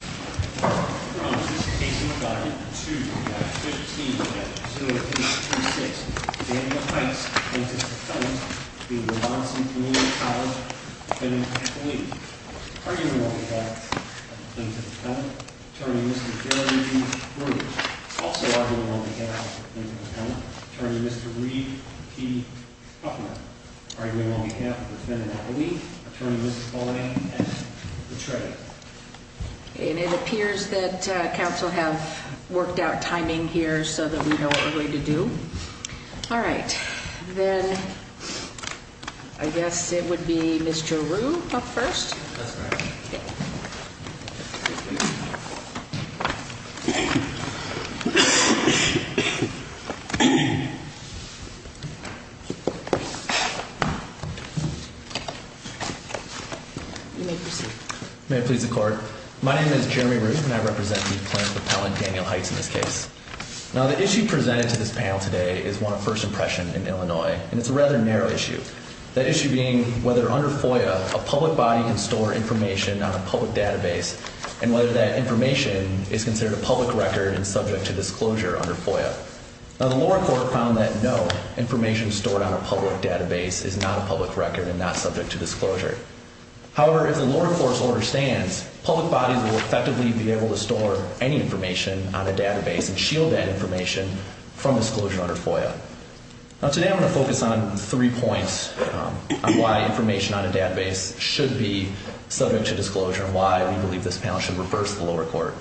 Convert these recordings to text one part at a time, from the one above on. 2-15-2036 Daniel Hites claims his defendant to be the Waubonsee Community College defendant-at-lease. Arguing on behalf of the defendant-at-lease, Attorney Mr. Gary Bruce. Also arguing on behalf of the defendant-at-lease, Attorney Mr. Reid P. Huffner. Arguing on behalf of the defendant-at-lease, Attorney Mrs. Pauline S. Betray. And it appears that council have worked out timing here so that we know what we're going to do. All right, then I guess it would be Mr. Rue up first. You may proceed. May it please the court. My name is Jeremy Rue and I represent the plaintiff appellant Daniel Hites in this case. Now the issue presented to this panel today is one of first impression in Illinois and it's a rather narrow issue. The issue being whether under FOIA a public body can store information on a public database and whether that information is considered a public record and subject to disclosure under FOIA. Now the lower court found that no, information stored on a public database is not a public record and not subject to disclosure. However, if the lower court's order stands, public bodies will effectively be able to store any information on a database and shield that information from disclosure under FOIA. Now today I'm going to focus on three points on why information on a database should be subject to disclosure and why we believe this panel should reverse the lower court.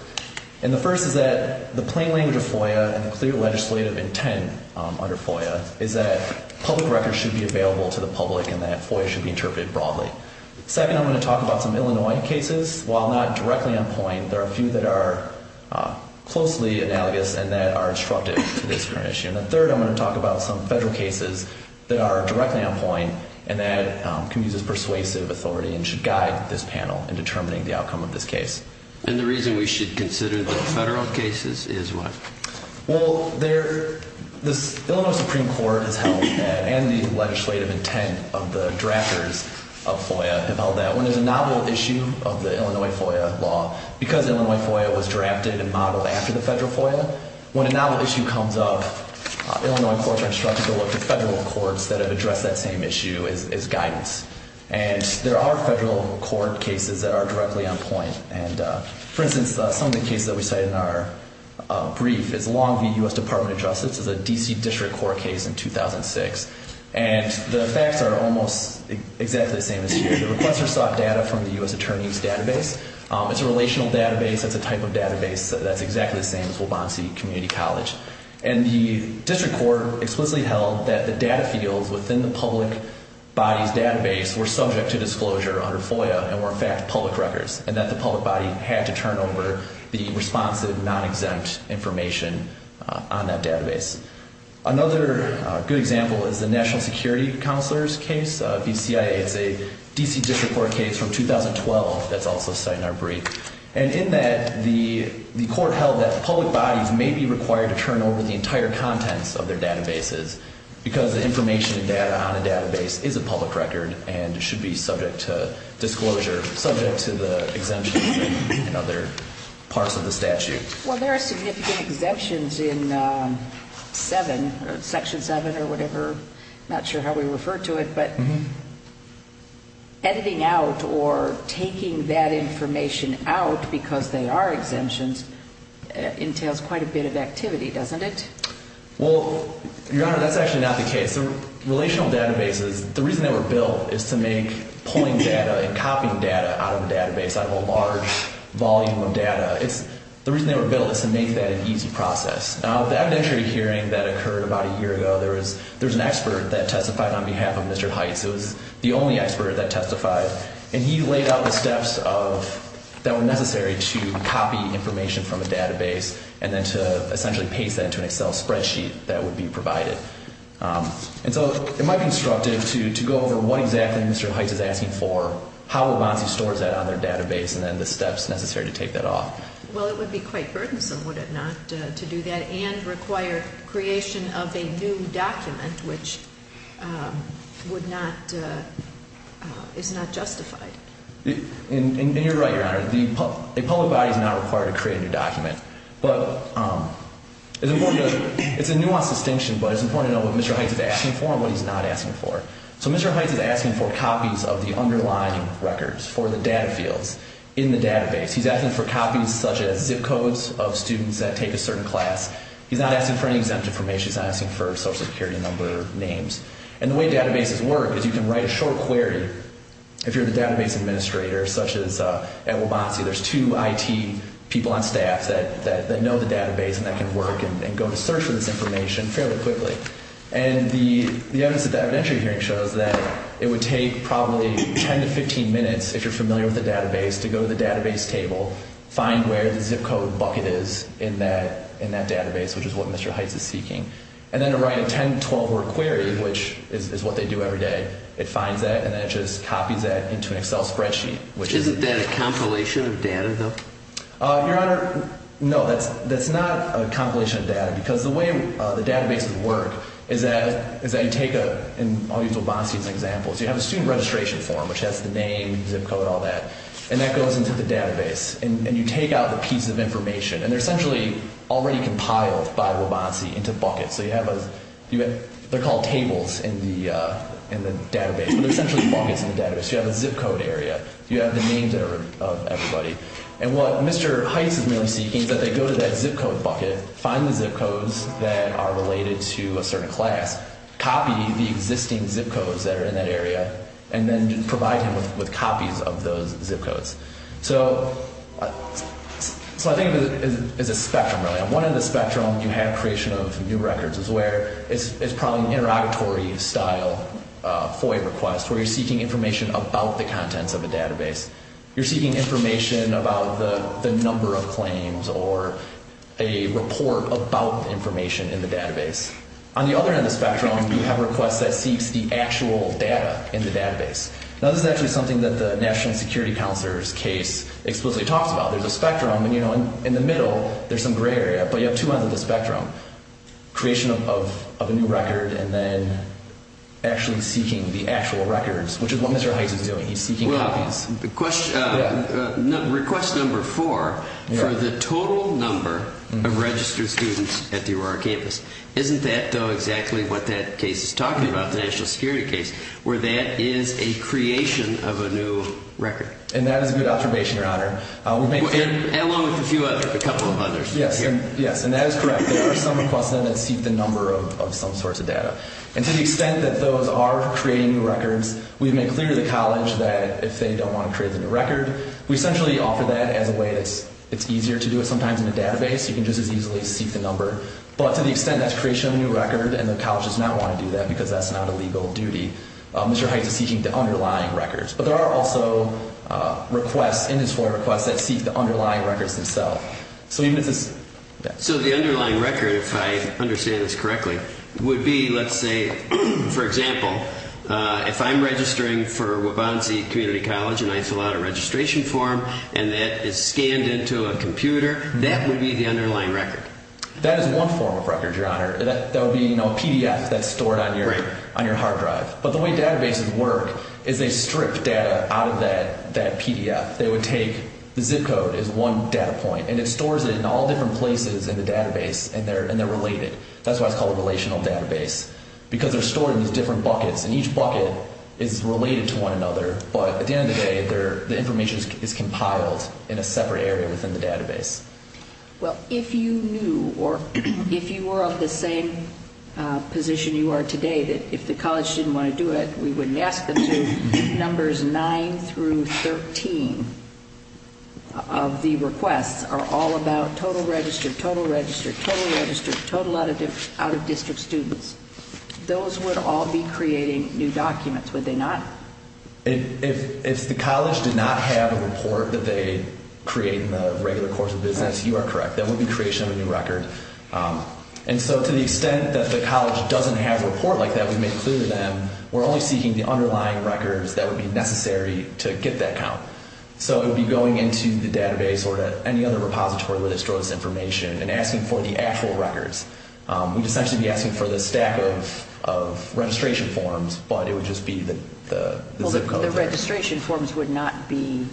And the first is that the plain language of FOIA and the clear legislative intent under FOIA is that public records should be available to the public and that FOIA should be interpreted broadly. Second, I'm going to talk about some Illinois cases. While not directly on point, there are a few that are closely analogous and that are instructive to this current issue. And third, I'm going to talk about some federal cases that are directly on point and that can use persuasive authority and should guide this panel in determining the outcome of this case. And the reason we should consider the federal cases is what? Well, the Illinois Supreme Court has held that and the legislative intent of the drafters of FOIA have held that when there's a novel issue of the Illinois FOIA law, because Illinois FOIA was drafted and modeled after the federal FOIA, when a novel issue comes up, Illinois courts are instructed to look to federal courts that have addressed that same issue as guidance. And there are federal court cases that are directly on point. And for instance, some of the cases that we cite in our brief is Longview U.S. Department of Justice. It's a D.C. District Court case in 2006. And the facts are almost exactly the same as here. The requesters sought data from the U.S. Attorney's Database. It's a relational database. It's a type of database that's exactly the same as Waubonsie Community College. And the District Court explicitly held that the data fields within the public body's database were subject to disclosure under FOIA and were in fact public records and that the public body had to turn over the responsive, non-exempt information on that database. Another good example is the National Security Counselor's case, BCIA. It's a D.C. District Court case from 2012 that's also cited in our brief. And in that, the court held that public bodies may be required to turn over the entire contents of their databases because the information and data on a database is a public record and should be subject to disclosure, subject to the exemptions and other parts of the statute. Well, there are significant exemptions in 7, Section 7 or whatever. I'm not sure how we refer to it. But editing out or taking that information out because they are exemptions entails quite a bit of activity, doesn't it? Well, Your Honor, that's actually not the case. Relational databases, the reason they were built is to make pulling data and copying data out of a database, out of a large volume of data. The reason they were built is to make that an easy process. Now, the evidentiary hearing that occurred about a year ago, there was an expert that testified on behalf of Mr. Heitz. It was the only expert that testified. And he laid out the steps that were necessary to copy information from a database and then to essentially paste that into an Excel spreadsheet that would be provided. And so it might be instructive to go over what exactly Mr. Heitz is asking for, how Obamse stores that on their database, and then the steps necessary to take that off. Well, it would be quite burdensome, would it not, to do that and require creation of a new document, which would not, is not justified. And you're right, Your Honor. A public body is not required to create a new document. But it's important to know, it's a nuanced distinction, but it's important to know what Mr. Heitz is asking for and what he's not asking for. So Mr. Heitz is asking for copies of the underlying records for the data fields in the database. He's asking for copies such as zip codes of students that take a certain class. He's not asking for any exempt information. He's not asking for Social Security number names. And the way databases work is you can write a short query. If you're the database administrator, such as at Obamse, there's two IT people on staff that know the database and that can work and go to search for this information fairly quickly. And the evidence at the evidentiary hearing shows that it would take probably 10 to 15 minutes, if you're familiar with the database, to go to the database table, find where the zip code bucket is in that database, which is what Mr. Heitz is seeking, and then to write a 10 to 12-word query, which is what they do every day. It finds that, and then it just copies that into an Excel spreadsheet. Your Honor, no, that's not a compilation of data, because the way the databases work is that you take a – and I'll use Obamse as an example. So you have a student registration form, which has the name, zip code, all that, and that goes into the database. And you take out the piece of information, and they're essentially already compiled by Obamse into buckets. So you have a – they're called tables in the database, but they're essentially buckets in the database. You have a zip code area. You have the names of everybody. And what Mr. Heitz is really seeking is that they go to that zip code bucket, find the zip codes that are related to a certain class, copy the existing zip codes that are in that area, and then provide him with copies of those zip codes. So I think of it as a spectrum, really. And one of the spectrum you have creation of new records is where it's probably an interrogatory-style FOIA request, where you're seeking information about the contents of a database. You're seeking information about the number of claims or a report about information in the database. On the other end of the spectrum, you have requests that seeks the actual data in the database. Now, this is actually something that the National Security Counselor's case explicitly talks about. There's a spectrum, and, you know, in the middle, there's some gray area, but you have two ends of the spectrum, creation of a new record and then actually seeking the actual records, which is what Mr. Heitz is doing. He's seeking copies. Well, request number four, for the total number of registered students at the Aurora campus. Isn't that, though, exactly what that case is talking about, the national security case, where that is a creation of a new record? And that is a good observation, Your Honor. Along with a few others, a couple of others. Yes. Yes, and that is correct. There are some requests that seek the number of some sorts of data. And to the extent that those are creating records, we've made clear to the college that if they don't want to create a new record, we essentially offer that as a way that it's easier to do it sometimes in a database. You can just as easily seek the number. But to the extent that's creation of a new record and the college does not want to do that because that's not a legal duty, Mr. Heitz is seeking the underlying records. But there are also requests in his FOIA requests that seek the underlying records themselves. So the underlying record, if I understand this correctly, would be, let's say, for example, if I'm registering for Waubonsie Community College and I fill out a registration form and that is scanned into a computer, that would be the underlying record. That is one form of record, Your Honor. That would be a PDF that's stored on your hard drive. But the way databases work is they strip data out of that PDF. They would take the zip code as one data point, and it stores it in all different places in the database, and they're related. That's why it's called a relational database because they're stored in these different buckets, and each bucket is related to one another. But at the end of the day, the information is compiled in a separate area within the database. Well, if you knew or if you were of the same position you are today that if the college didn't want to do it, we wouldn't ask them to, numbers 9 through 13 of the requests are all about total register, total register, total register, total out-of-district students. Those would all be creating new documents, would they not? If the college did not have a report that they create in the regular course of business, you are correct. That would be creation of a new record. And so to the extent that the college doesn't have a report like that, we've made clear to them, we're only seeking the underlying records that would be necessary to get that count. So it would be going into the database or to any other repository that would store this information and asking for the actual records. We'd essentially be asking for the stack of registration forms, but it would just be the zip code there. Well, the registration forms would not be,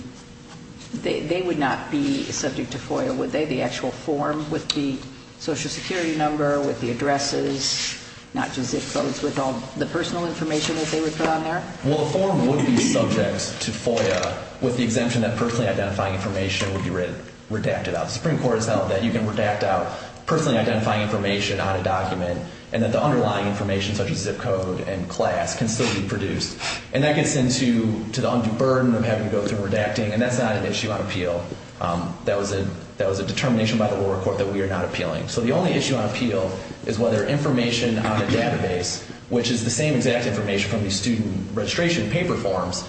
they would not be subject to FOIA, would they? The actual form with the Social Security number, with the addresses, not just zip codes with all the personal information that they would put on there? Well, the form would be subject to FOIA with the exemption that personally identifying information would be redacted out. The Supreme Court has held that you can redact out personally identifying information on a document and that the underlying information such as zip code and class can still be produced. And that gets into the undue burden of having to go through redacting, and that's not an issue on appeal. That was a determination by the lower court that we are not appealing. So the only issue on appeal is whether information on a database, which is the same exact information from the student registration paper forms,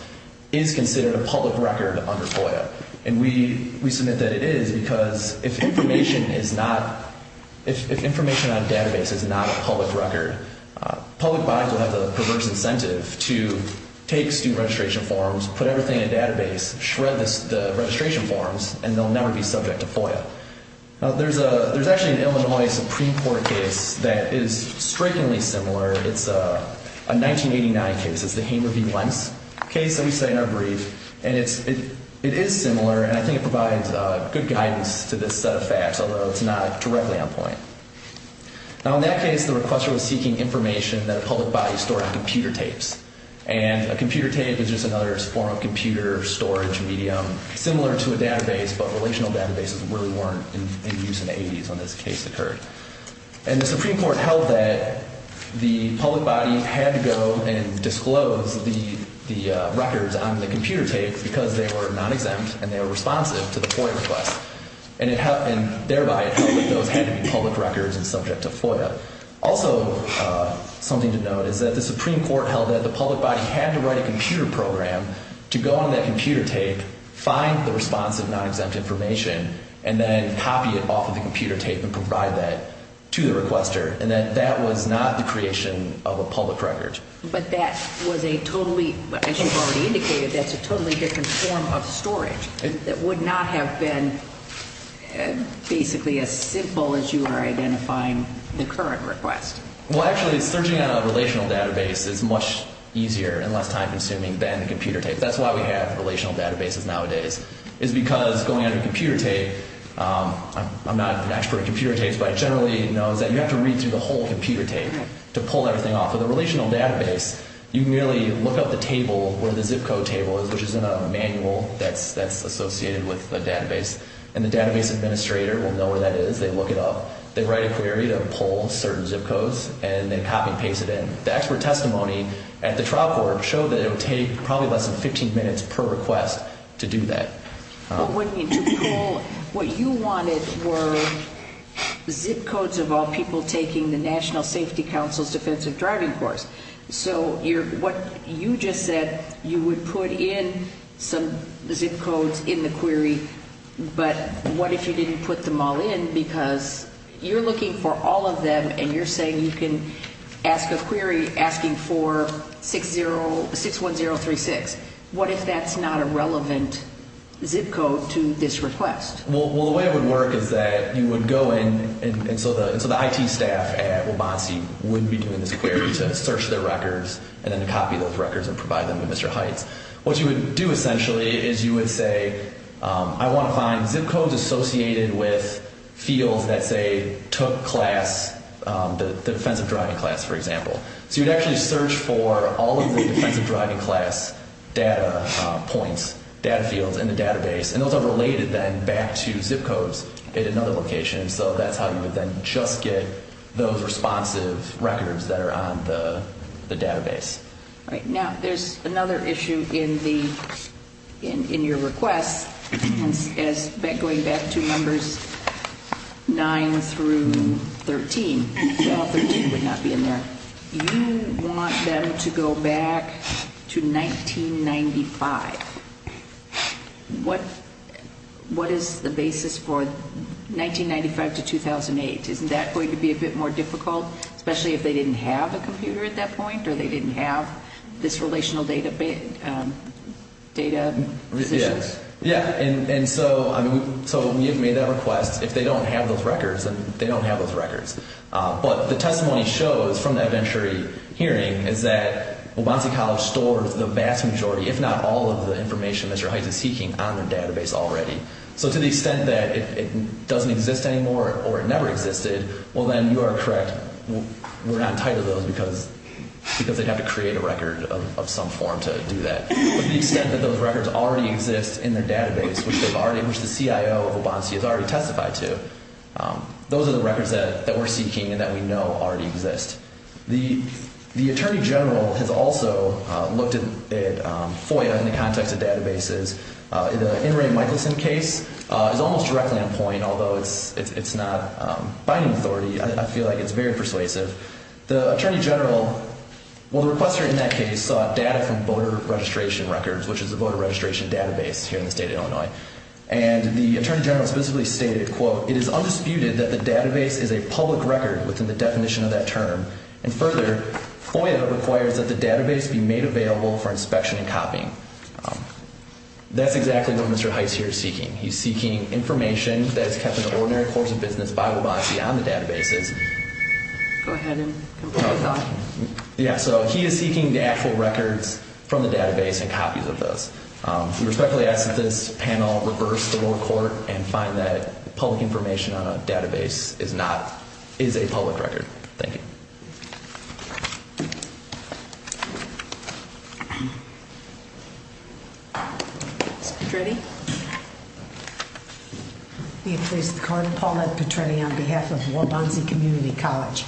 is considered a public record under FOIA. And we submit that it is because if information is not, if information on a database is not a public record, public bodies will have the perverse incentive to take student registration forms, put everything in a database, shred the registration forms, and they'll never be subject to FOIA. Now, there's actually an Illinois Supreme Court case that is strikingly similar. It's a 1989 case. It's the Hamer v. Wentz case that we say in our brief. And it is similar, and I think it provides good guidance to this set of facts, although it's not directly on point. Now, in that case, the requester was seeking information that a public body stored on computer tapes. And a computer tape is just another form of computer storage medium similar to a database, but relational databases really weren't in use in the 80s when this case occurred. And the Supreme Court held that the public body had to go and disclose the records on the computer tapes because they were non-exempt and they were responsive to the FOIA request. And thereby, it held that those had to be public records and subject to FOIA. Also, something to note is that the Supreme Court held that the public body had to write a computer program to go on that computer tape, find the responsive non-exempt information, and then copy it off of the computer tape and provide that to the requester, and that that was not the creation of a public record. But that was a totally, as you've already indicated, that's a totally different form of storage. It would not have been basically as simple as you are identifying the current request. Well, actually, searching on a relational database is much easier and less time-consuming than a computer tape. That's why we have relational databases nowadays, is because going on a computer tape, I'm not an expert in computer tapes, but I generally know that you have to read through the whole computer tape to pull everything off. With a relational database, you can really look up the table where the zip code table is, which is in a manual that's associated with the database, and the database administrator will know where that is. They look it up. They write a query to pull certain zip codes, and then copy and paste it in. The expert testimony at the trial court showed that it would take probably less than 15 minutes per request to do that. But what you wanted were zip codes of all people taking the National Safety Council's defensive driving course. So what you just said, you would put in some zip codes in the query, but what if you didn't put them all in because you're looking for all of them, and you're saying you can ask a query asking for 61036. What if that's not a relevant zip code to this request? Well, the way it would work is that you would go in, and so the IT staff at Waubonsie would be doing this query to search their records and then copy those records and provide them to Mr. Heights. What you would do essentially is you would say, I want to find zip codes associated with fields that say took class, the defensive driving class, for example. So you would actually search for all of the defensive driving class data points, data fields in the database, and those are related then back to zip codes at another location. So that's how you would then just get those responsive records that are on the database. All right. Now, there's another issue in your request going back to Numbers 9 through 13. Well, 13 would not be in there. You want them to go back to 1995. What is the basis for 1995 to 2008? Isn't that going to be a bit more difficult, especially if they didn't have a computer at that point or they didn't have this relational data positions? Yeah, and so we have made that request. If they don't have those records, then they don't have those records. But the testimony shows from that Venturi hearing is that Waubonsie College stores the vast majority, if not all of the information that your height is seeking, on their database already. So to the extent that it doesn't exist anymore or it never existed, well, then you are correct. We're not entitled to those because they'd have to create a record of some form to do that. But to the extent that those records already exist in their database, which the CIO of Waubonsie has already testified to, those are the records that we're seeking and that we know already exist. The Attorney General has also looked at FOIA in the context of databases. The In re. Michelson case is almost directly on point, although it's not binding authority. I feel like it's very persuasive. The Attorney General, well, the requester in that case sought data from voter registration records, which is a voter registration database here in the state of Illinois. And the Attorney General specifically stated, quote, It is undisputed that the database is a public record within the definition of that term. And further, FOIA requires that the database be made available for inspection and copying. That's exactly what Mr. Heitz here is seeking. He's seeking information that is kept in the ordinary course of business by Waubonsie on the databases. Go ahead and complete the question. Yeah, so he is seeking the actual records from the database and copies of those. We respectfully ask that this panel reverse the lower court and find that public information on a database is not, is a public record. Thank you. Ms. Petretti. May it please the Court, Paulette Petretti on behalf of Waubonsie Community College.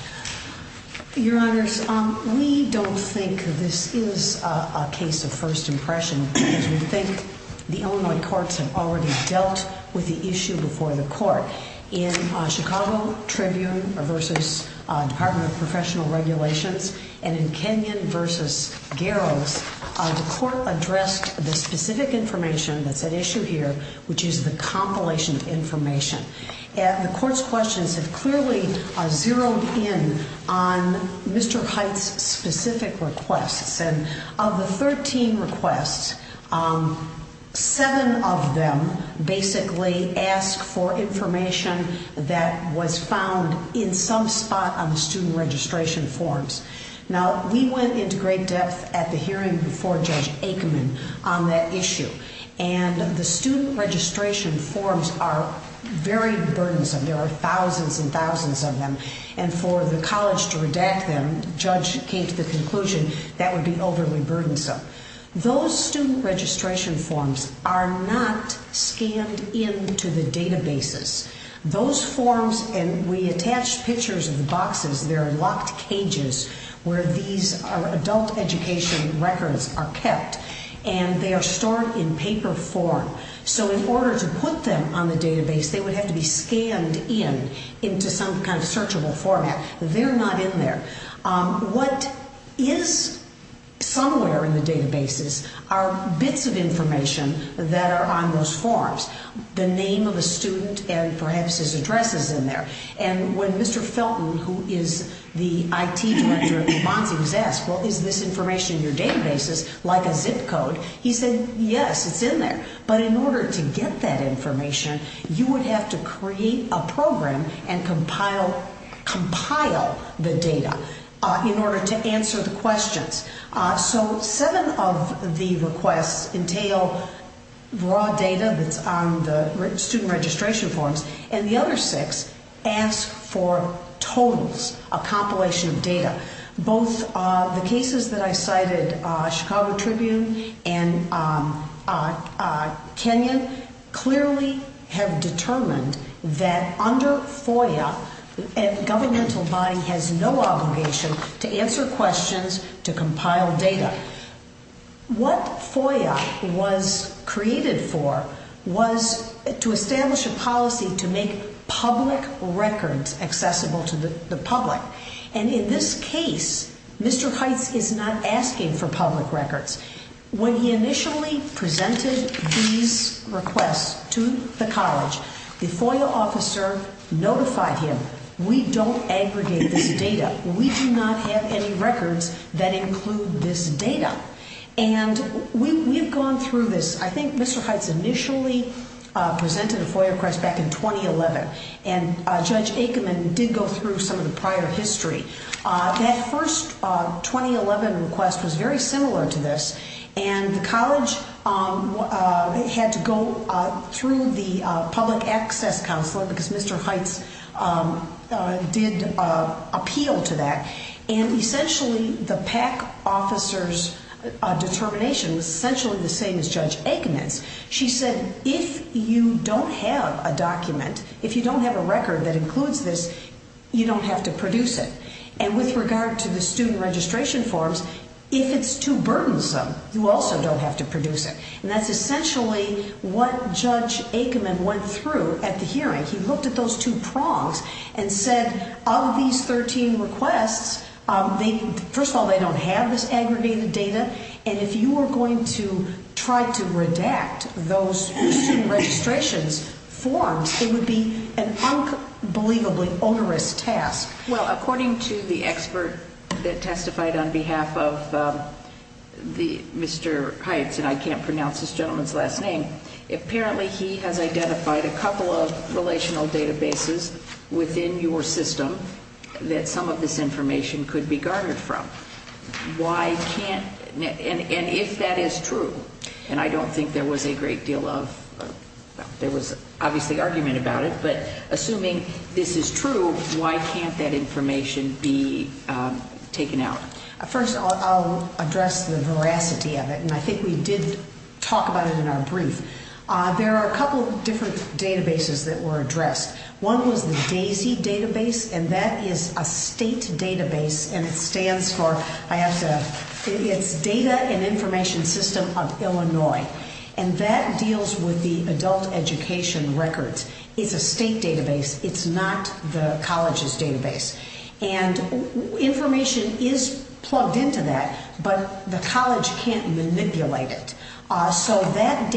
Your Honors, we don't think this is a case of first impression because we think the Illinois courts have already dealt with the issue before the court. In Chicago Tribune versus Department of Professional Regulations and in Kenyon versus Garrows, the court addressed the specific information that's at issue here, which is the compilation information. And the court's questions have clearly zeroed in on Mr. Heitz's specific requests. And of the 13 requests, 7 of them basically ask for information that was found in some spot on the student registration forms. Now, we went into great depth at the hearing before Judge Aikman on that issue. And the student registration forms are very burdensome. There are thousands and thousands of them. And for the college to redact them, Judge came to the conclusion that would be overly burdensome. Those student registration forms are not scanned into the databases. Those forms, and we attached pictures of the boxes, they're in locked cages where these adult education records are kept. And they are stored in paper form. So in order to put them on the database, they would have to be scanned in, into some kind of searchable format. They're not in there. What is somewhere in the databases are bits of information that are on those forms, the name of the student and perhaps his address is in there. And when Mr. Felton, who is the IT director at New Monsey, was asked, well, is this information in your databases like a zip code? He said, yes, it's in there. But in order to get that information, you would have to create a program and compile the data in order to answer the questions. So seven of the requests entail raw data that's on the student registration forms, and the other six ask for totals, a compilation of data. Both the cases that I cited, Chicago Tribune and Kenyon, clearly have determined that under FOIA, a governmental body has no obligation to answer questions, to compile data. What FOIA was created for was to establish a policy to make public records accessible to the public. And in this case, Mr. Heights is not asking for public records. When he initially presented these requests to the college, the FOIA officer notified him, we don't aggregate this data. We do not have any records that include this data. And we've gone through this. I think Mr. Heights initially presented a FOIA request back in 2011, and Judge Aikman did go through some of the prior history. That first 2011 request was very similar to this, and the college had to go through the Public Access Council, because Mr. Heights did appeal to that. And essentially the PAC officer's determination was essentially the same as Judge Aikman's. She said, if you don't have a document, if you don't have a record that includes this, you don't have to produce it. And with regard to the student registration forms, if it's too burdensome, you also don't have to produce it. And that's essentially what Judge Aikman went through at the hearing. He looked at those two prongs and said, of these 13 requests, first of all, they don't have this aggregated data, and if you are going to try to redact those student registrations forms, it would be an unbelievably onerous task. Well, according to the expert that testified on behalf of Mr. Heights, and I can't pronounce this gentleman's last name, apparently he has identified a couple of relational databases within your system that some of this information could be garnered from. Why can't, and if that is true, and I don't think there was a great deal of, there was obviously argument about it, but assuming this is true, why can't that information be taken out? First, I'll address the veracity of it, and I think we did talk about it in our brief. There are a couple of different databases that were addressed. One was the DAISY database, and that is a state database, and it stands for, I have to, it's Data and Information System of Illinois, and that deals with the adult education records. It's a state database. It's not the college's database. And information is plugged into that, but the college can't manipulate it. And,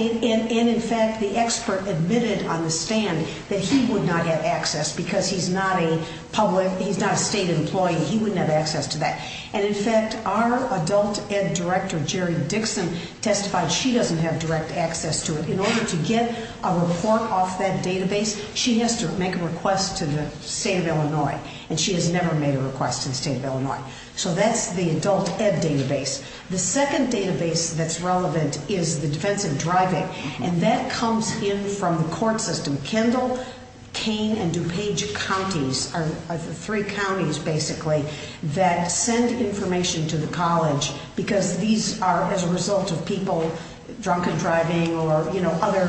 in fact, the expert admitted on the stand that he would not get access because he's not a public, he's not a state employee. He wouldn't have access to that. And, in fact, our adult ed director, Jerry Dixon, testified she doesn't have direct access to it. In order to get a report off that database, she has to make a request to the state of Illinois, and she has never made a request to the state of Illinois. So that's the adult ed database. The second database that's relevant is the defense of driving, and that comes in from the court system. Kendall, Kane, and DuPage counties are the three counties, basically, that send information to the college because these are, as a result of people drunken driving or, you know, other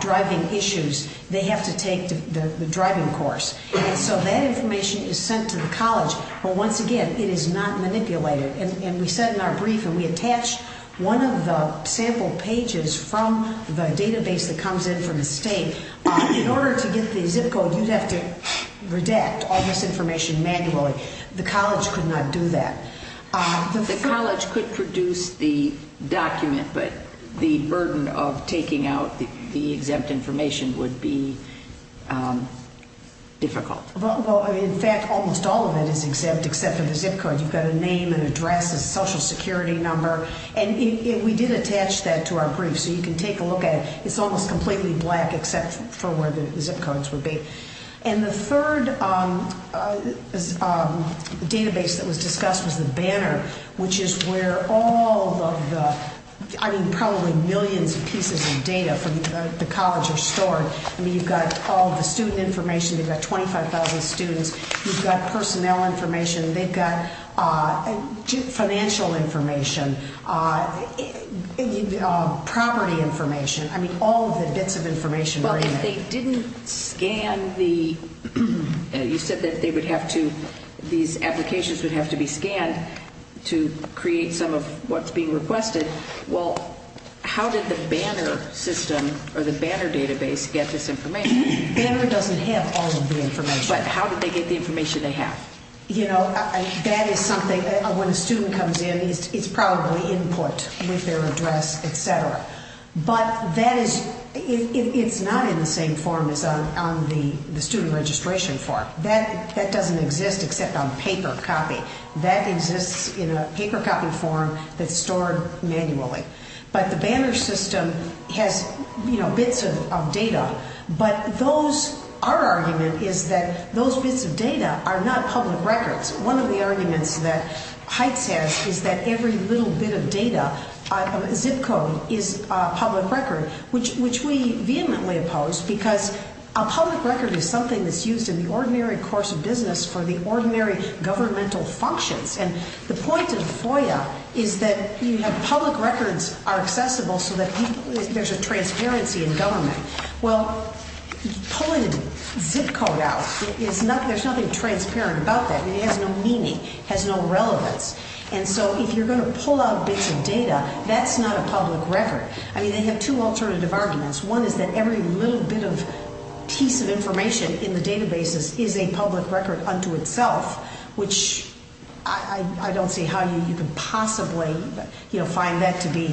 driving issues, they have to take the driving course. And so that information is sent to the college, but, once again, it is not manipulated. And we said in our brief, and we attached one of the sample pages from the database that comes in from the state, in order to get the zip code, you'd have to redact all this information manually. The college could not do that. The college could produce the document, but the burden of taking out the exempt information would be difficult. Well, in fact, almost all of it is exempt except for the zip code. You've got a name, an address, a social security number. And we did attach that to our brief, so you can take a look at it. It's almost completely black except for where the zip codes would be. And the third database that was discussed was the banner, which is where all of the, I mean, probably millions of pieces of data from the college are stored. I mean, you've got all of the student information. You've got 25,000 students. You've got personnel information. They've got financial information, property information. I mean, all of the bits of information are in there. Well, if they didn't scan the, you said that they would have to, these applications would have to be scanned to create some of what's being requested. Well, how did the banner system or the banner database get this information? Banner doesn't have all of the information. But how did they get the information they have? You know, that is something, when a student comes in, it's probably input with their address, et cetera. But that is, it's not in the same form as on the student registration form. That doesn't exist except on paper copy. That exists in a paper copy form that's stored manually. But the banner system has, you know, bits of data. But those, our argument is that those bits of data are not public records. One of the arguments that Heights has is that every little bit of data, zip code, is a public record, which we vehemently oppose because a public record is something that's used in the ordinary course of business for the ordinary governmental functions. And the point of FOIA is that you have public records are accessible so that there's a transparency in government. Well, pulling a zip code out, there's nothing transparent about that. It has no meaning. It has no relevance. And so if you're going to pull out bits of data, that's not a public record. I mean, they have two alternative arguments. One is that every little bit of piece of information in the databases is a public record unto itself, which I don't see how you can possibly, you know, find that to be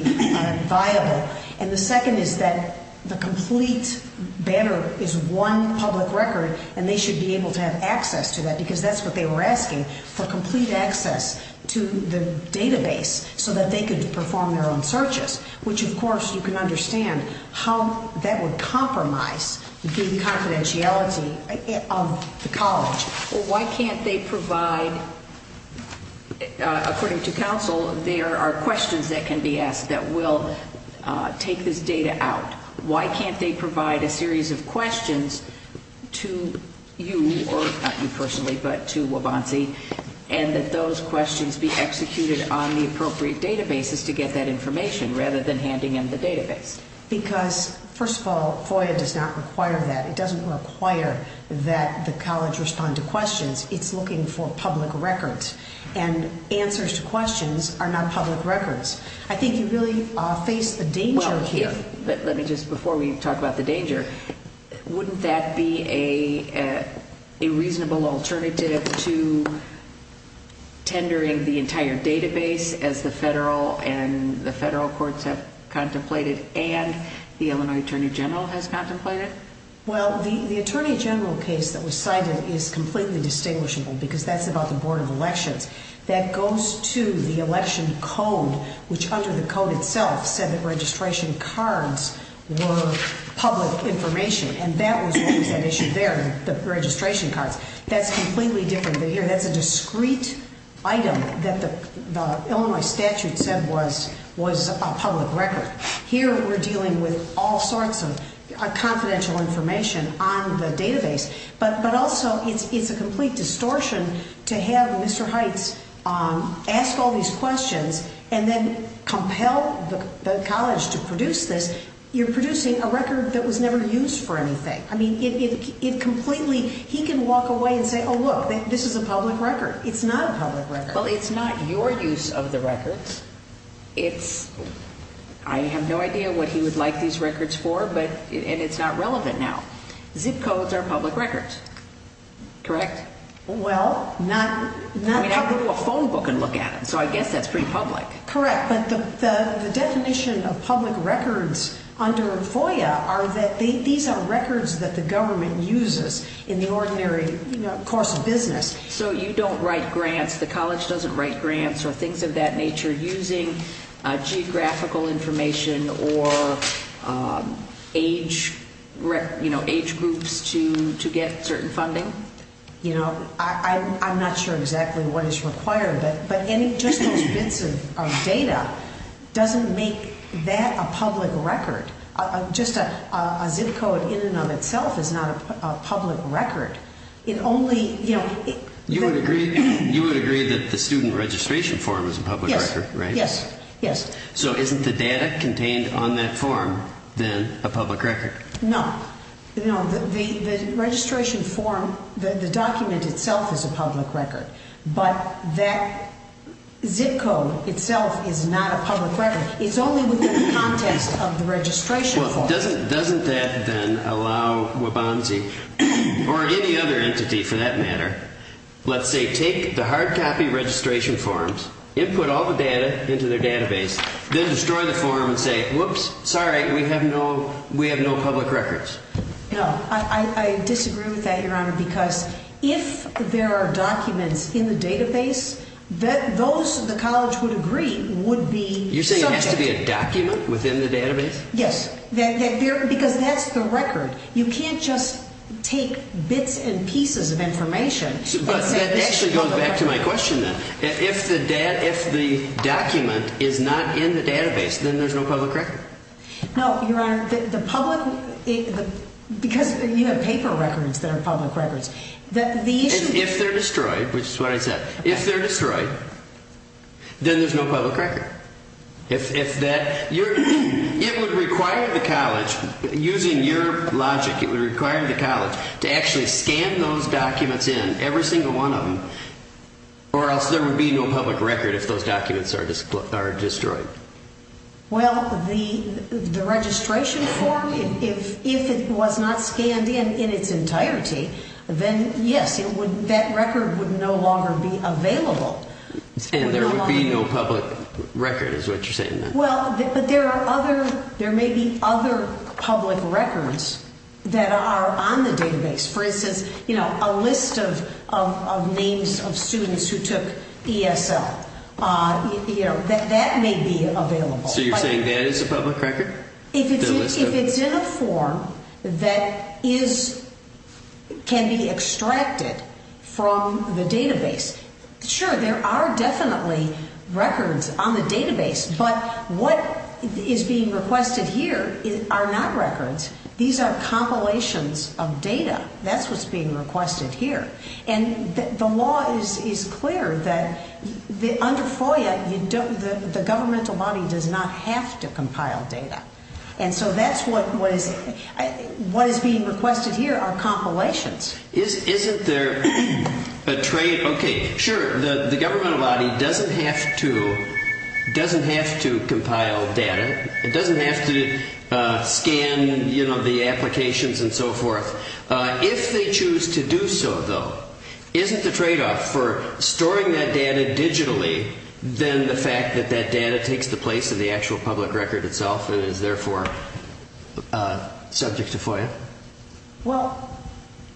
viable. And the second is that the complete banner is one public record, and they should be able to have access to that because that's what they were asking, for complete access to the database so that they could perform their own searches, which, of course, you can understand how that would compromise the confidentiality of the college. Well, why can't they provide, according to counsel, there are questions that can be asked that will take this data out. Why can't they provide a series of questions to you, or not you personally, but to Waubonsie, and that those questions be executed on the appropriate databases to get that information rather than handing in the database? Because, first of all, FOIA does not require that. It doesn't require that the college respond to questions. It's looking for public records. And answers to questions are not public records. I think you really face a danger here. But let me just, before we talk about the danger, wouldn't that be a reasonable alternative to tendering the entire database as the federal and the federal courts have contemplated and the Illinois Attorney General has contemplated? Well, the Attorney General case that was cited is completely distinguishable because that's about the Board of Elections. That goes to the election code, which under the code itself said that registration cards were public information. And that was what was at issue there, the registration cards. That's completely different here. That's a discrete item that the Illinois statute said was a public record. Here we're dealing with all sorts of confidential information on the database. But also, it's a complete distortion to have Mr. Heights ask all these questions and then compel the college to produce this. You're producing a record that was never used for anything. I mean, it completely, he can walk away and say, oh, look, this is a public record. It's not a public record. Well, it's not your use of the records. It's, I have no idea what he would like these records for, and it's not relevant now. Zip codes are public records, correct? Well, not public. I mean, I could do a phone book and look at them, so I guess that's pretty public. Correct, but the definition of public records under FOIA are that these are records that the government uses in the ordinary course of business. So you don't write grants, the college doesn't write grants or things of that nature using geographical information or age groups to get certain funding? You know, I'm not sure exactly what is required, but just those bits of data doesn't make that a public record. Just a zip code in and of itself is not a public record. You would agree that the student registration form is a public record, right? Yes, yes. So isn't the data contained on that form then a public record? No, no. The registration form, the document itself is a public record, but that zip code itself is not a public record. It's only within the context of the registration form. Well, doesn't that then allow Waubonsie or any other entity for that matter, let's say, take the hard copy registration forms, input all the data into their database, then destroy the form and say, whoops, sorry, we have no public records. No, I disagree with that, Your Honor, because if there are documents in the database, those the college would agree would be subject. You're saying it has to be a document within the database? Yes, because that's the record. You can't just take bits and pieces of information. But that actually goes back to my question then. If the document is not in the database, then there's no public record. No, Your Honor, the public, because you have paper records that are public records. If they're destroyed, which is what I said, if they're destroyed, then there's no public record. If that, it would require the college, using your logic, it would require the college to actually scan those documents in, every single one of them, or else there would be no public record if those documents are destroyed. Well, the registration form, if it was not scanned in in its entirety, then yes, that record would no longer be available. And there would be no public record is what you're saying then? Well, but there are other, there may be other public records that are on the database. For instance, you know, a list of names of students who took ESL. You know, that may be available. So you're saying that is a public record? If it's in a form that is, can be extracted from the database, sure, there are definitely records on the database, but what is being requested here are not records. These are compilations of data. That's what's being requested here. And the law is clear that under FOIA, the governmental body does not have to compile data. And so that's what is, what is being requested here are compilations. Isn't there a trade? Okay, sure. The governmental body doesn't have to, doesn't have to compile data. It doesn't have to scan, you know, the applications and so forth. If they choose to do so, though, isn't the tradeoff for storing that data digitally, then the fact that that data takes the place of the actual public record itself and is therefore subject to FOIA? Well,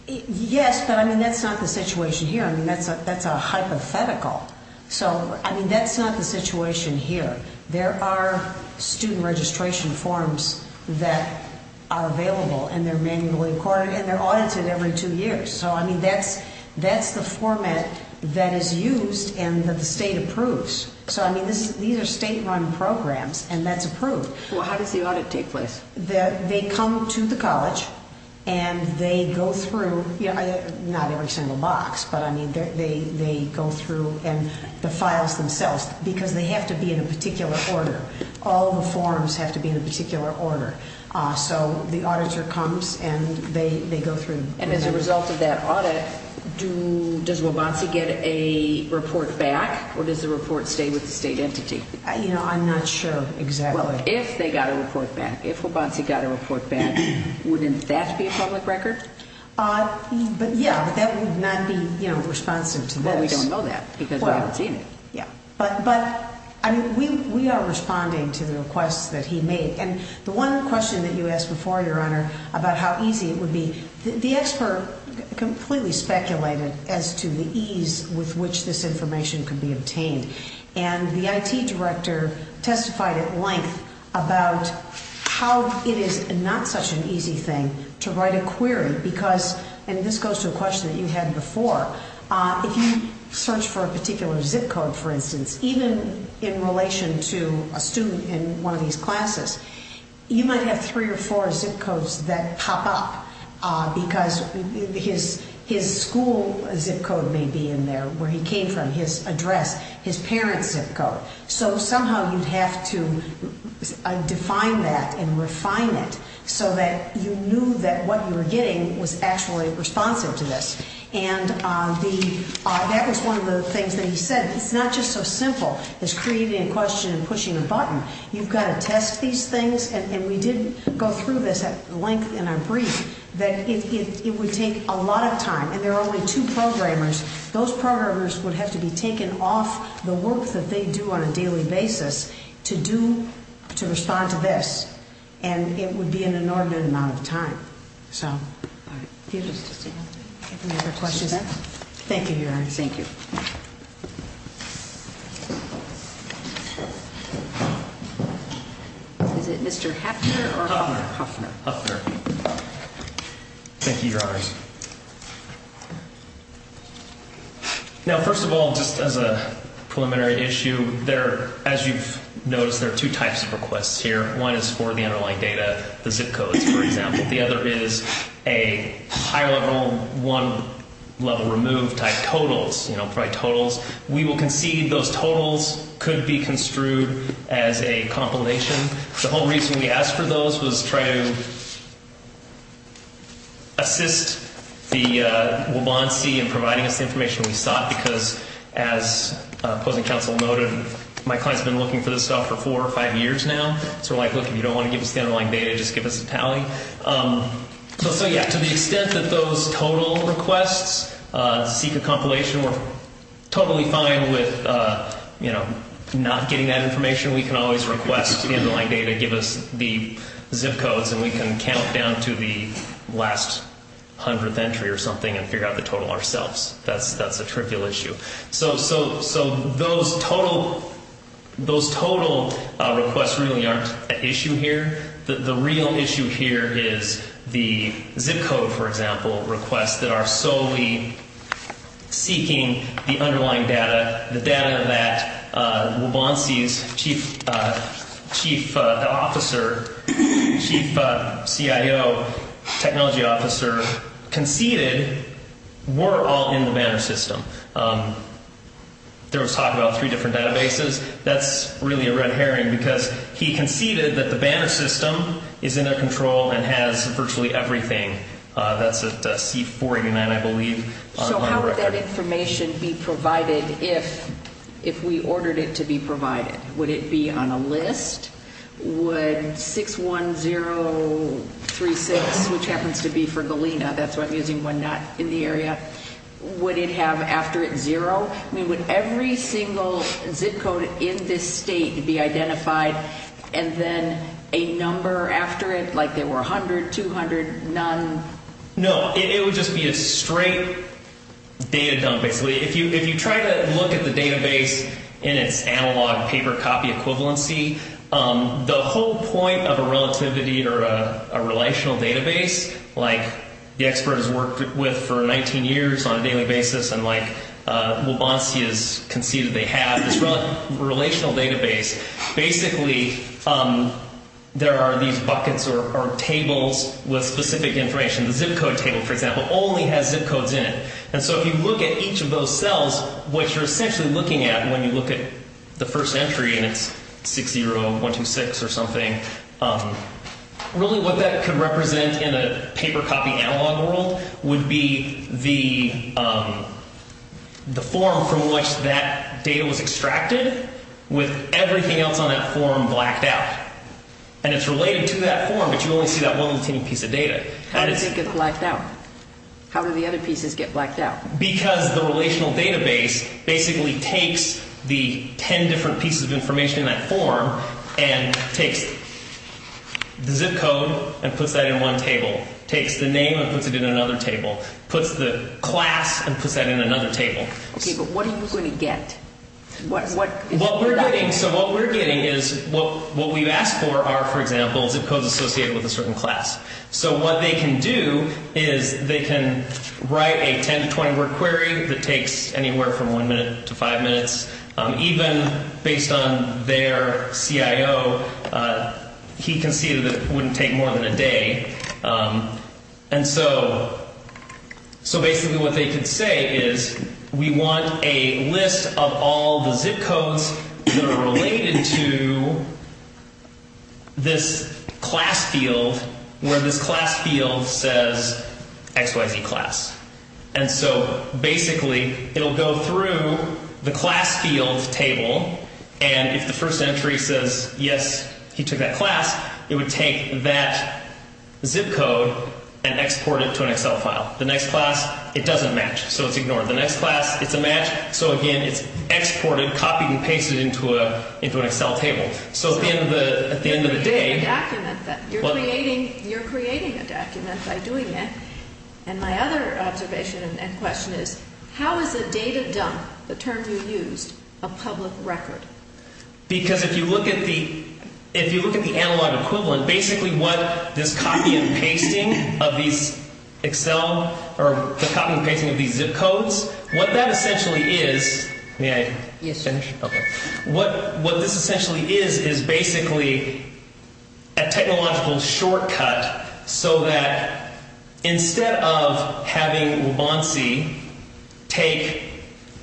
yes, but, I mean, that's not the situation here. I mean, that's a hypothetical. So, I mean, that's not the situation here. There are student registration forms that are available, and they're manually recorded, and they're audited every two years. So, I mean, that's the format that is used and that the state approves. So, I mean, these are state-run programs, and that's approved. Well, how does the audit take place? They come to the college, and they go through, not every single box, but, I mean, they go through the files themselves because they have to be in a particular order. All the forms have to be in a particular order. So the auditor comes, and they go through. And as a result of that audit, does Wabatsi get a report back, or does the report stay with the state entity? You know, I'm not sure exactly. If they got a report back, if Wabatsi got a report back, wouldn't that be a public record? But, yeah, that would not be, you know, responsive to this. Well, we don't know that because we haven't seen it. Yeah. But, I mean, we are responding to the requests that he made. And the one question that you asked before, Your Honor, about how easy it would be, the expert completely speculated as to the ease with which this information could be obtained. And the IT director testified at length about how it is not such an easy thing to write a query because, and this goes to a question that you had before, if you search for a particular zip code, for instance, even in relation to a student in one of these classes, you might have three or four zip codes that pop up because his school zip code may be in there, where he came from, his address, his parents' zip code. So somehow you'd have to define that and refine it so that you knew that what you were getting was actually responsive to this. And that was one of the things that he said. It's not just so simple as creating a question and pushing a button. You've got to test these things, and we did go through this at length in our brief, that it would take a lot of time. And there are only two programmers. Those programmers would have to be taken off the work that they do on a daily basis to do, to respond to this. And it would be an inordinate amount of time. So. All right. Any other questions? Thank you, Your Honor. Thank you. Is it Mr. Hafner or Huffner? Huffner. Huffner. Thank you, Your Honors. Now, first of all, just as a preliminary issue, as you've noticed, there are two types of requests here. One is for the underlying data, the zip codes, for example. The other is a high-level, one-level-removed type totals, you know, probably totals. We will concede those totals could be construed as a compilation. The whole reason we asked for those was to try to assist the Waubonsie in providing us the information we sought, because, as opposing counsel noted, my client's been looking for this stuff for four or five years now. So we're like, look, if you don't want to give us the underlying data, just give us a tally. So, yeah, to the extent that those total requests seek a compilation, we're totally fine with, you know, not getting that information. We can always request the underlying data, give us the zip codes, and we can count down to the last hundredth entry or something and figure out the total ourselves. That's a trivial issue. So those total requests really aren't an issue here. The real issue here is the zip code, for example, requests that are solely seeking the underlying data, the data that Waubonsie's chief officer, chief CIO, technology officer, conceded were all in the Banner system. There was talk about three different databases. That's really a red herring, because he conceded that the Banner system is in their control and has virtually everything. That's at C489, I believe. So how would that information be provided if we ordered it to be provided? Would it be on a list? Would 61036, which happens to be for Galena, that's why I'm using one not in the area, would it have after it's zero? I mean, would every single zip code in this state be identified, and then a number after it, like there were 100, 200, none? No, it would just be a straight data dump, basically. If you try to look at the database in its analog paper copy equivalency, the whole point of a relativity or a relational database, like the expert has worked with for 19 years on a daily basis, and like Waubonsie has conceded they have this relational database, basically there are these buckets or tables with specific information. The zip code table, for example, only has zip codes in it. And so if you look at each of those cells, what you're essentially looking at when you look at the first entry and it's 60126 or something, really what that could represent in a paper copy analog world would be the form from which that data was extracted with everything else on that form blacked out. And it's related to that form, but you only see that one little teeny piece of data. How does it get blacked out? How do the other pieces get blacked out? Because the relational database basically takes the 10 different pieces of information in that form and takes the zip code and puts that in one table, takes the name and puts it in another table, puts the class and puts that in another table. OK, but what are you going to get? So what we're getting is what we've asked for are, for example, zip codes associated with a certain class. So what they can do is they can write a 10 to 20 word query that takes anywhere from one minute to five minutes. Even based on their CIO, he conceded that it wouldn't take more than a day. And so basically what they could say is we want a list of all the zip codes that are related to this class field where this class field says XYZ class. And so basically it'll go through the class field table. And if the first entry says, yes, he took that class, it would take that zip code and export it to an Excel file. The next class, it doesn't match. So it's ignored. The next class, it's a match. So again, it's exported, copied and pasted into an Excel table. So at the end of the day. You're creating a document by doing that. And my other observation and question is how is a data dump, the term you used, a public record? Because if you look at the analog equivalent, basically what this copy and pasting of these Excel or the copy and pasting of these zip codes, what that essentially is. May I finish? OK. What this essentially is is basically a technological shortcut so that instead of having Rubansi take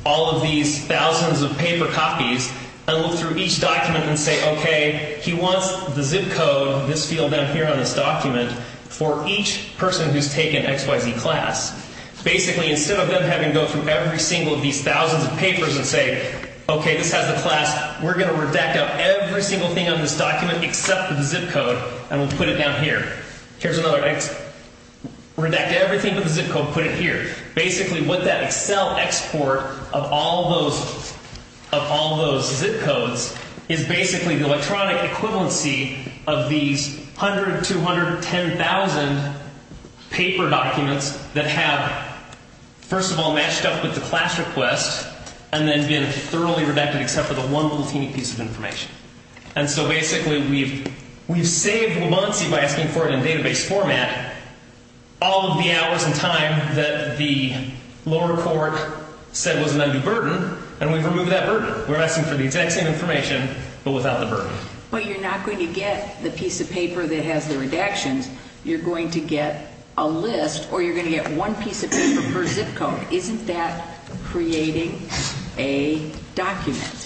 all of these thousands of paper copies and look through each document and say, OK, he wants the zip code, this field down here on this document, for each person who's taken XYZ class. Basically, instead of them having to go through every single of these thousands of papers and say, OK, this has the class, we're going to redact out every single thing on this document except for the zip code and we'll put it down here. Here's another. Redact everything but the zip code and put it here. Basically, what that Excel export of all those zip codes is basically the electronic equivalency of these 100, 200, 10,000 paper documents that have, first of all, matched up with the class request and then been thoroughly redacted except for the one little teeny piece of information. Basically, we've saved Rubansi by asking for it in database format all of the hours and time that the lower court said was an undue burden and we've removed that burden. We're asking for the exact same information but without the burden. But you're not going to get the piece of paper that has the redactions. You're going to get a list or you're going to get one piece of paper per zip code. Isn't that creating a document?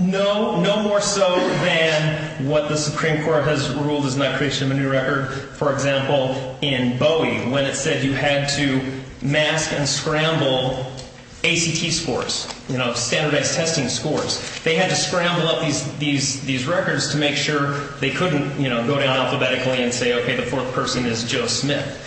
No, no more so than what the Supreme Court has ruled is not creation of a new record. For example, in Bowie, when it said you had to mask and scramble ACT scores, standardized testing scores, they had to scramble up these records to make sure they couldn't go down alphabetically and say, OK, the fourth person is Joe Smith.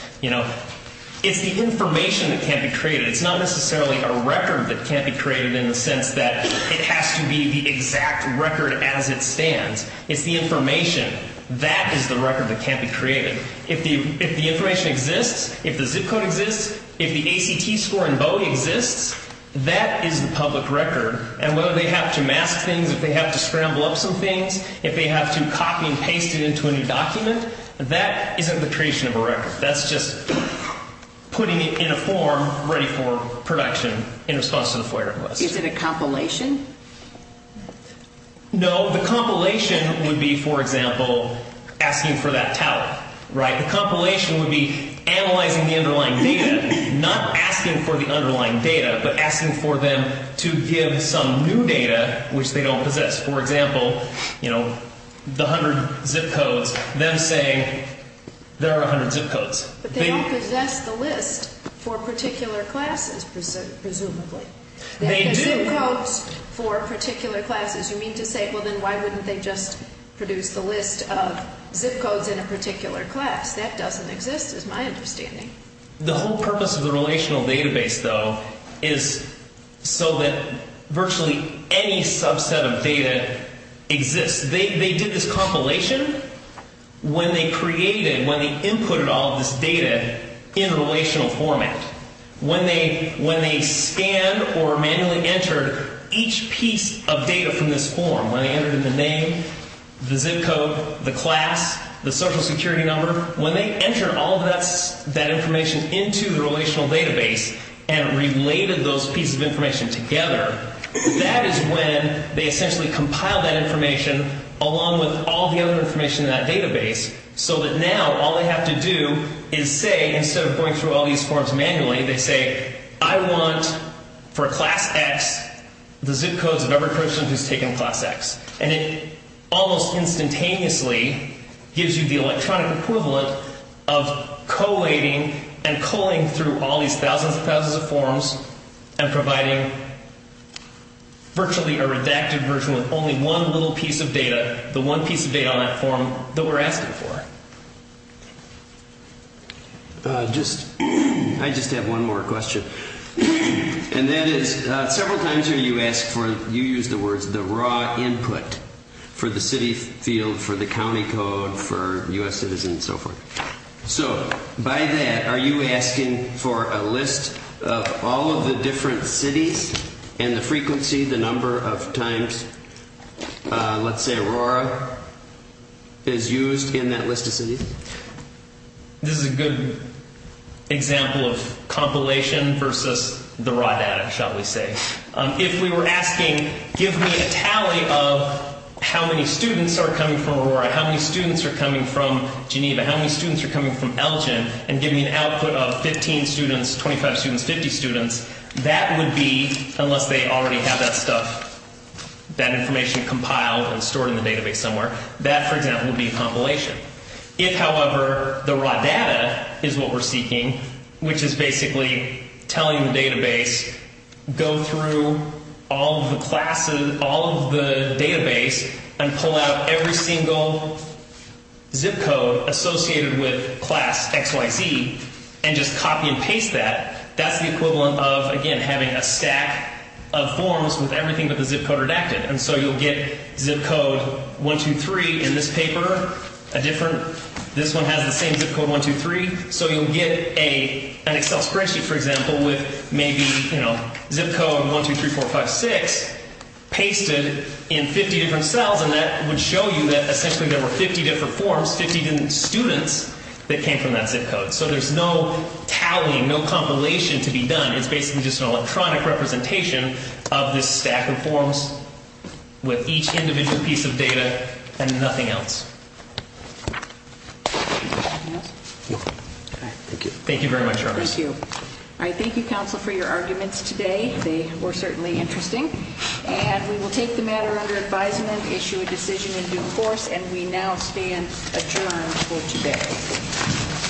It's the information that can't be created. It's not necessarily a record that can't be created in the sense that it has to be the exact record as it stands. It's the information. That is the record that can't be created. If the information exists, if the zip code exists, if the ACT score in Bowie exists, that is the public record. And whether they have to mask things, if they have to scramble up some things, if they have to copy and paste it into a new document, that isn't the creation of a record. That's just putting it in a form ready for production in response to the FOIA request. Is it a compilation? No, the compilation would be, for example, asking for that tally, right? The compilation would be analyzing the underlying data, not asking for the underlying data, but asking for them to give some new data which they don't possess. For example, the 100 zip codes, them saying there are 100 zip codes. But they don't possess the list for particular classes, presumably. They do. They have zip codes for particular classes. You mean to say, well, then why wouldn't they just produce the list of zip codes in a particular class? That doesn't exist is my understanding. The whole purpose of the relational database, though, is so that virtually any subset of data exists. They did this compilation when they created, when they inputted all of this data in a relational format. When they scanned or manually entered each piece of data from this form, when they entered in the name, the zip code, the class, the social security number. When they entered all of that information into the relational database and related those pieces of information together, that is when they essentially compiled that information along with all the other information in that database. So that now all they have to do is say, instead of going through all these forms manually, they say, I want for class X the zip codes of every person who's taken class X. And it almost instantaneously gives you the electronic equivalent of collating and culling through all these thousands and thousands of forms and providing virtually a redacted version with only one little piece of data, the one piece of data on that form that we're asking for. I just have one more question. And that is, several times here you ask for, you use the words, the raw input for the city field, for the county code, for U.S. citizens and so forth. So by that, are you asking for a list of all of the different cities and the frequency, the number of times, let's say, Aurora is used in that list of cities? This is a good example of compilation versus the raw data, shall we say. If we were asking, give me a tally of how many students are coming from Aurora, how many students are coming from Geneva, how many students are coming from Elgin, and give me an output of 15 students, 25 students, 50 students, that would be, unless they already have that stuff, that information compiled and stored in the database somewhere, that, for example, would be compilation. If, however, the raw data is what we're seeking, which is basically telling the database, go through all of the classes, all of the database, and pull out every single zip code associated with class XYZ and just copy and paste that, that's the equivalent of, again, having a stack of forms with everything but the zip code redacted. And so you'll get zip code 1, 2, 3 in this paper, a different, this one has the same zip code 1, 2, 3. So you'll get an Excel spreadsheet, for example, with maybe zip code 1, 2, 3, 4, 5, 6 pasted in 50 different cells, and that would show you that essentially there were 50 different forms, 50 different students that came from that zip code. So there's no tallying, no compilation to be done. It's basically just an electronic representation of this stack of forms with each individual piece of data and nothing else. Anything else? No. All right, thank you. Thank you very much, Ernest. Thank you. All right, thank you, counsel, for your arguments today. They were certainly interesting. And we will take the matter under advisement, issue a decision in due course, and we now stand adjourned for today.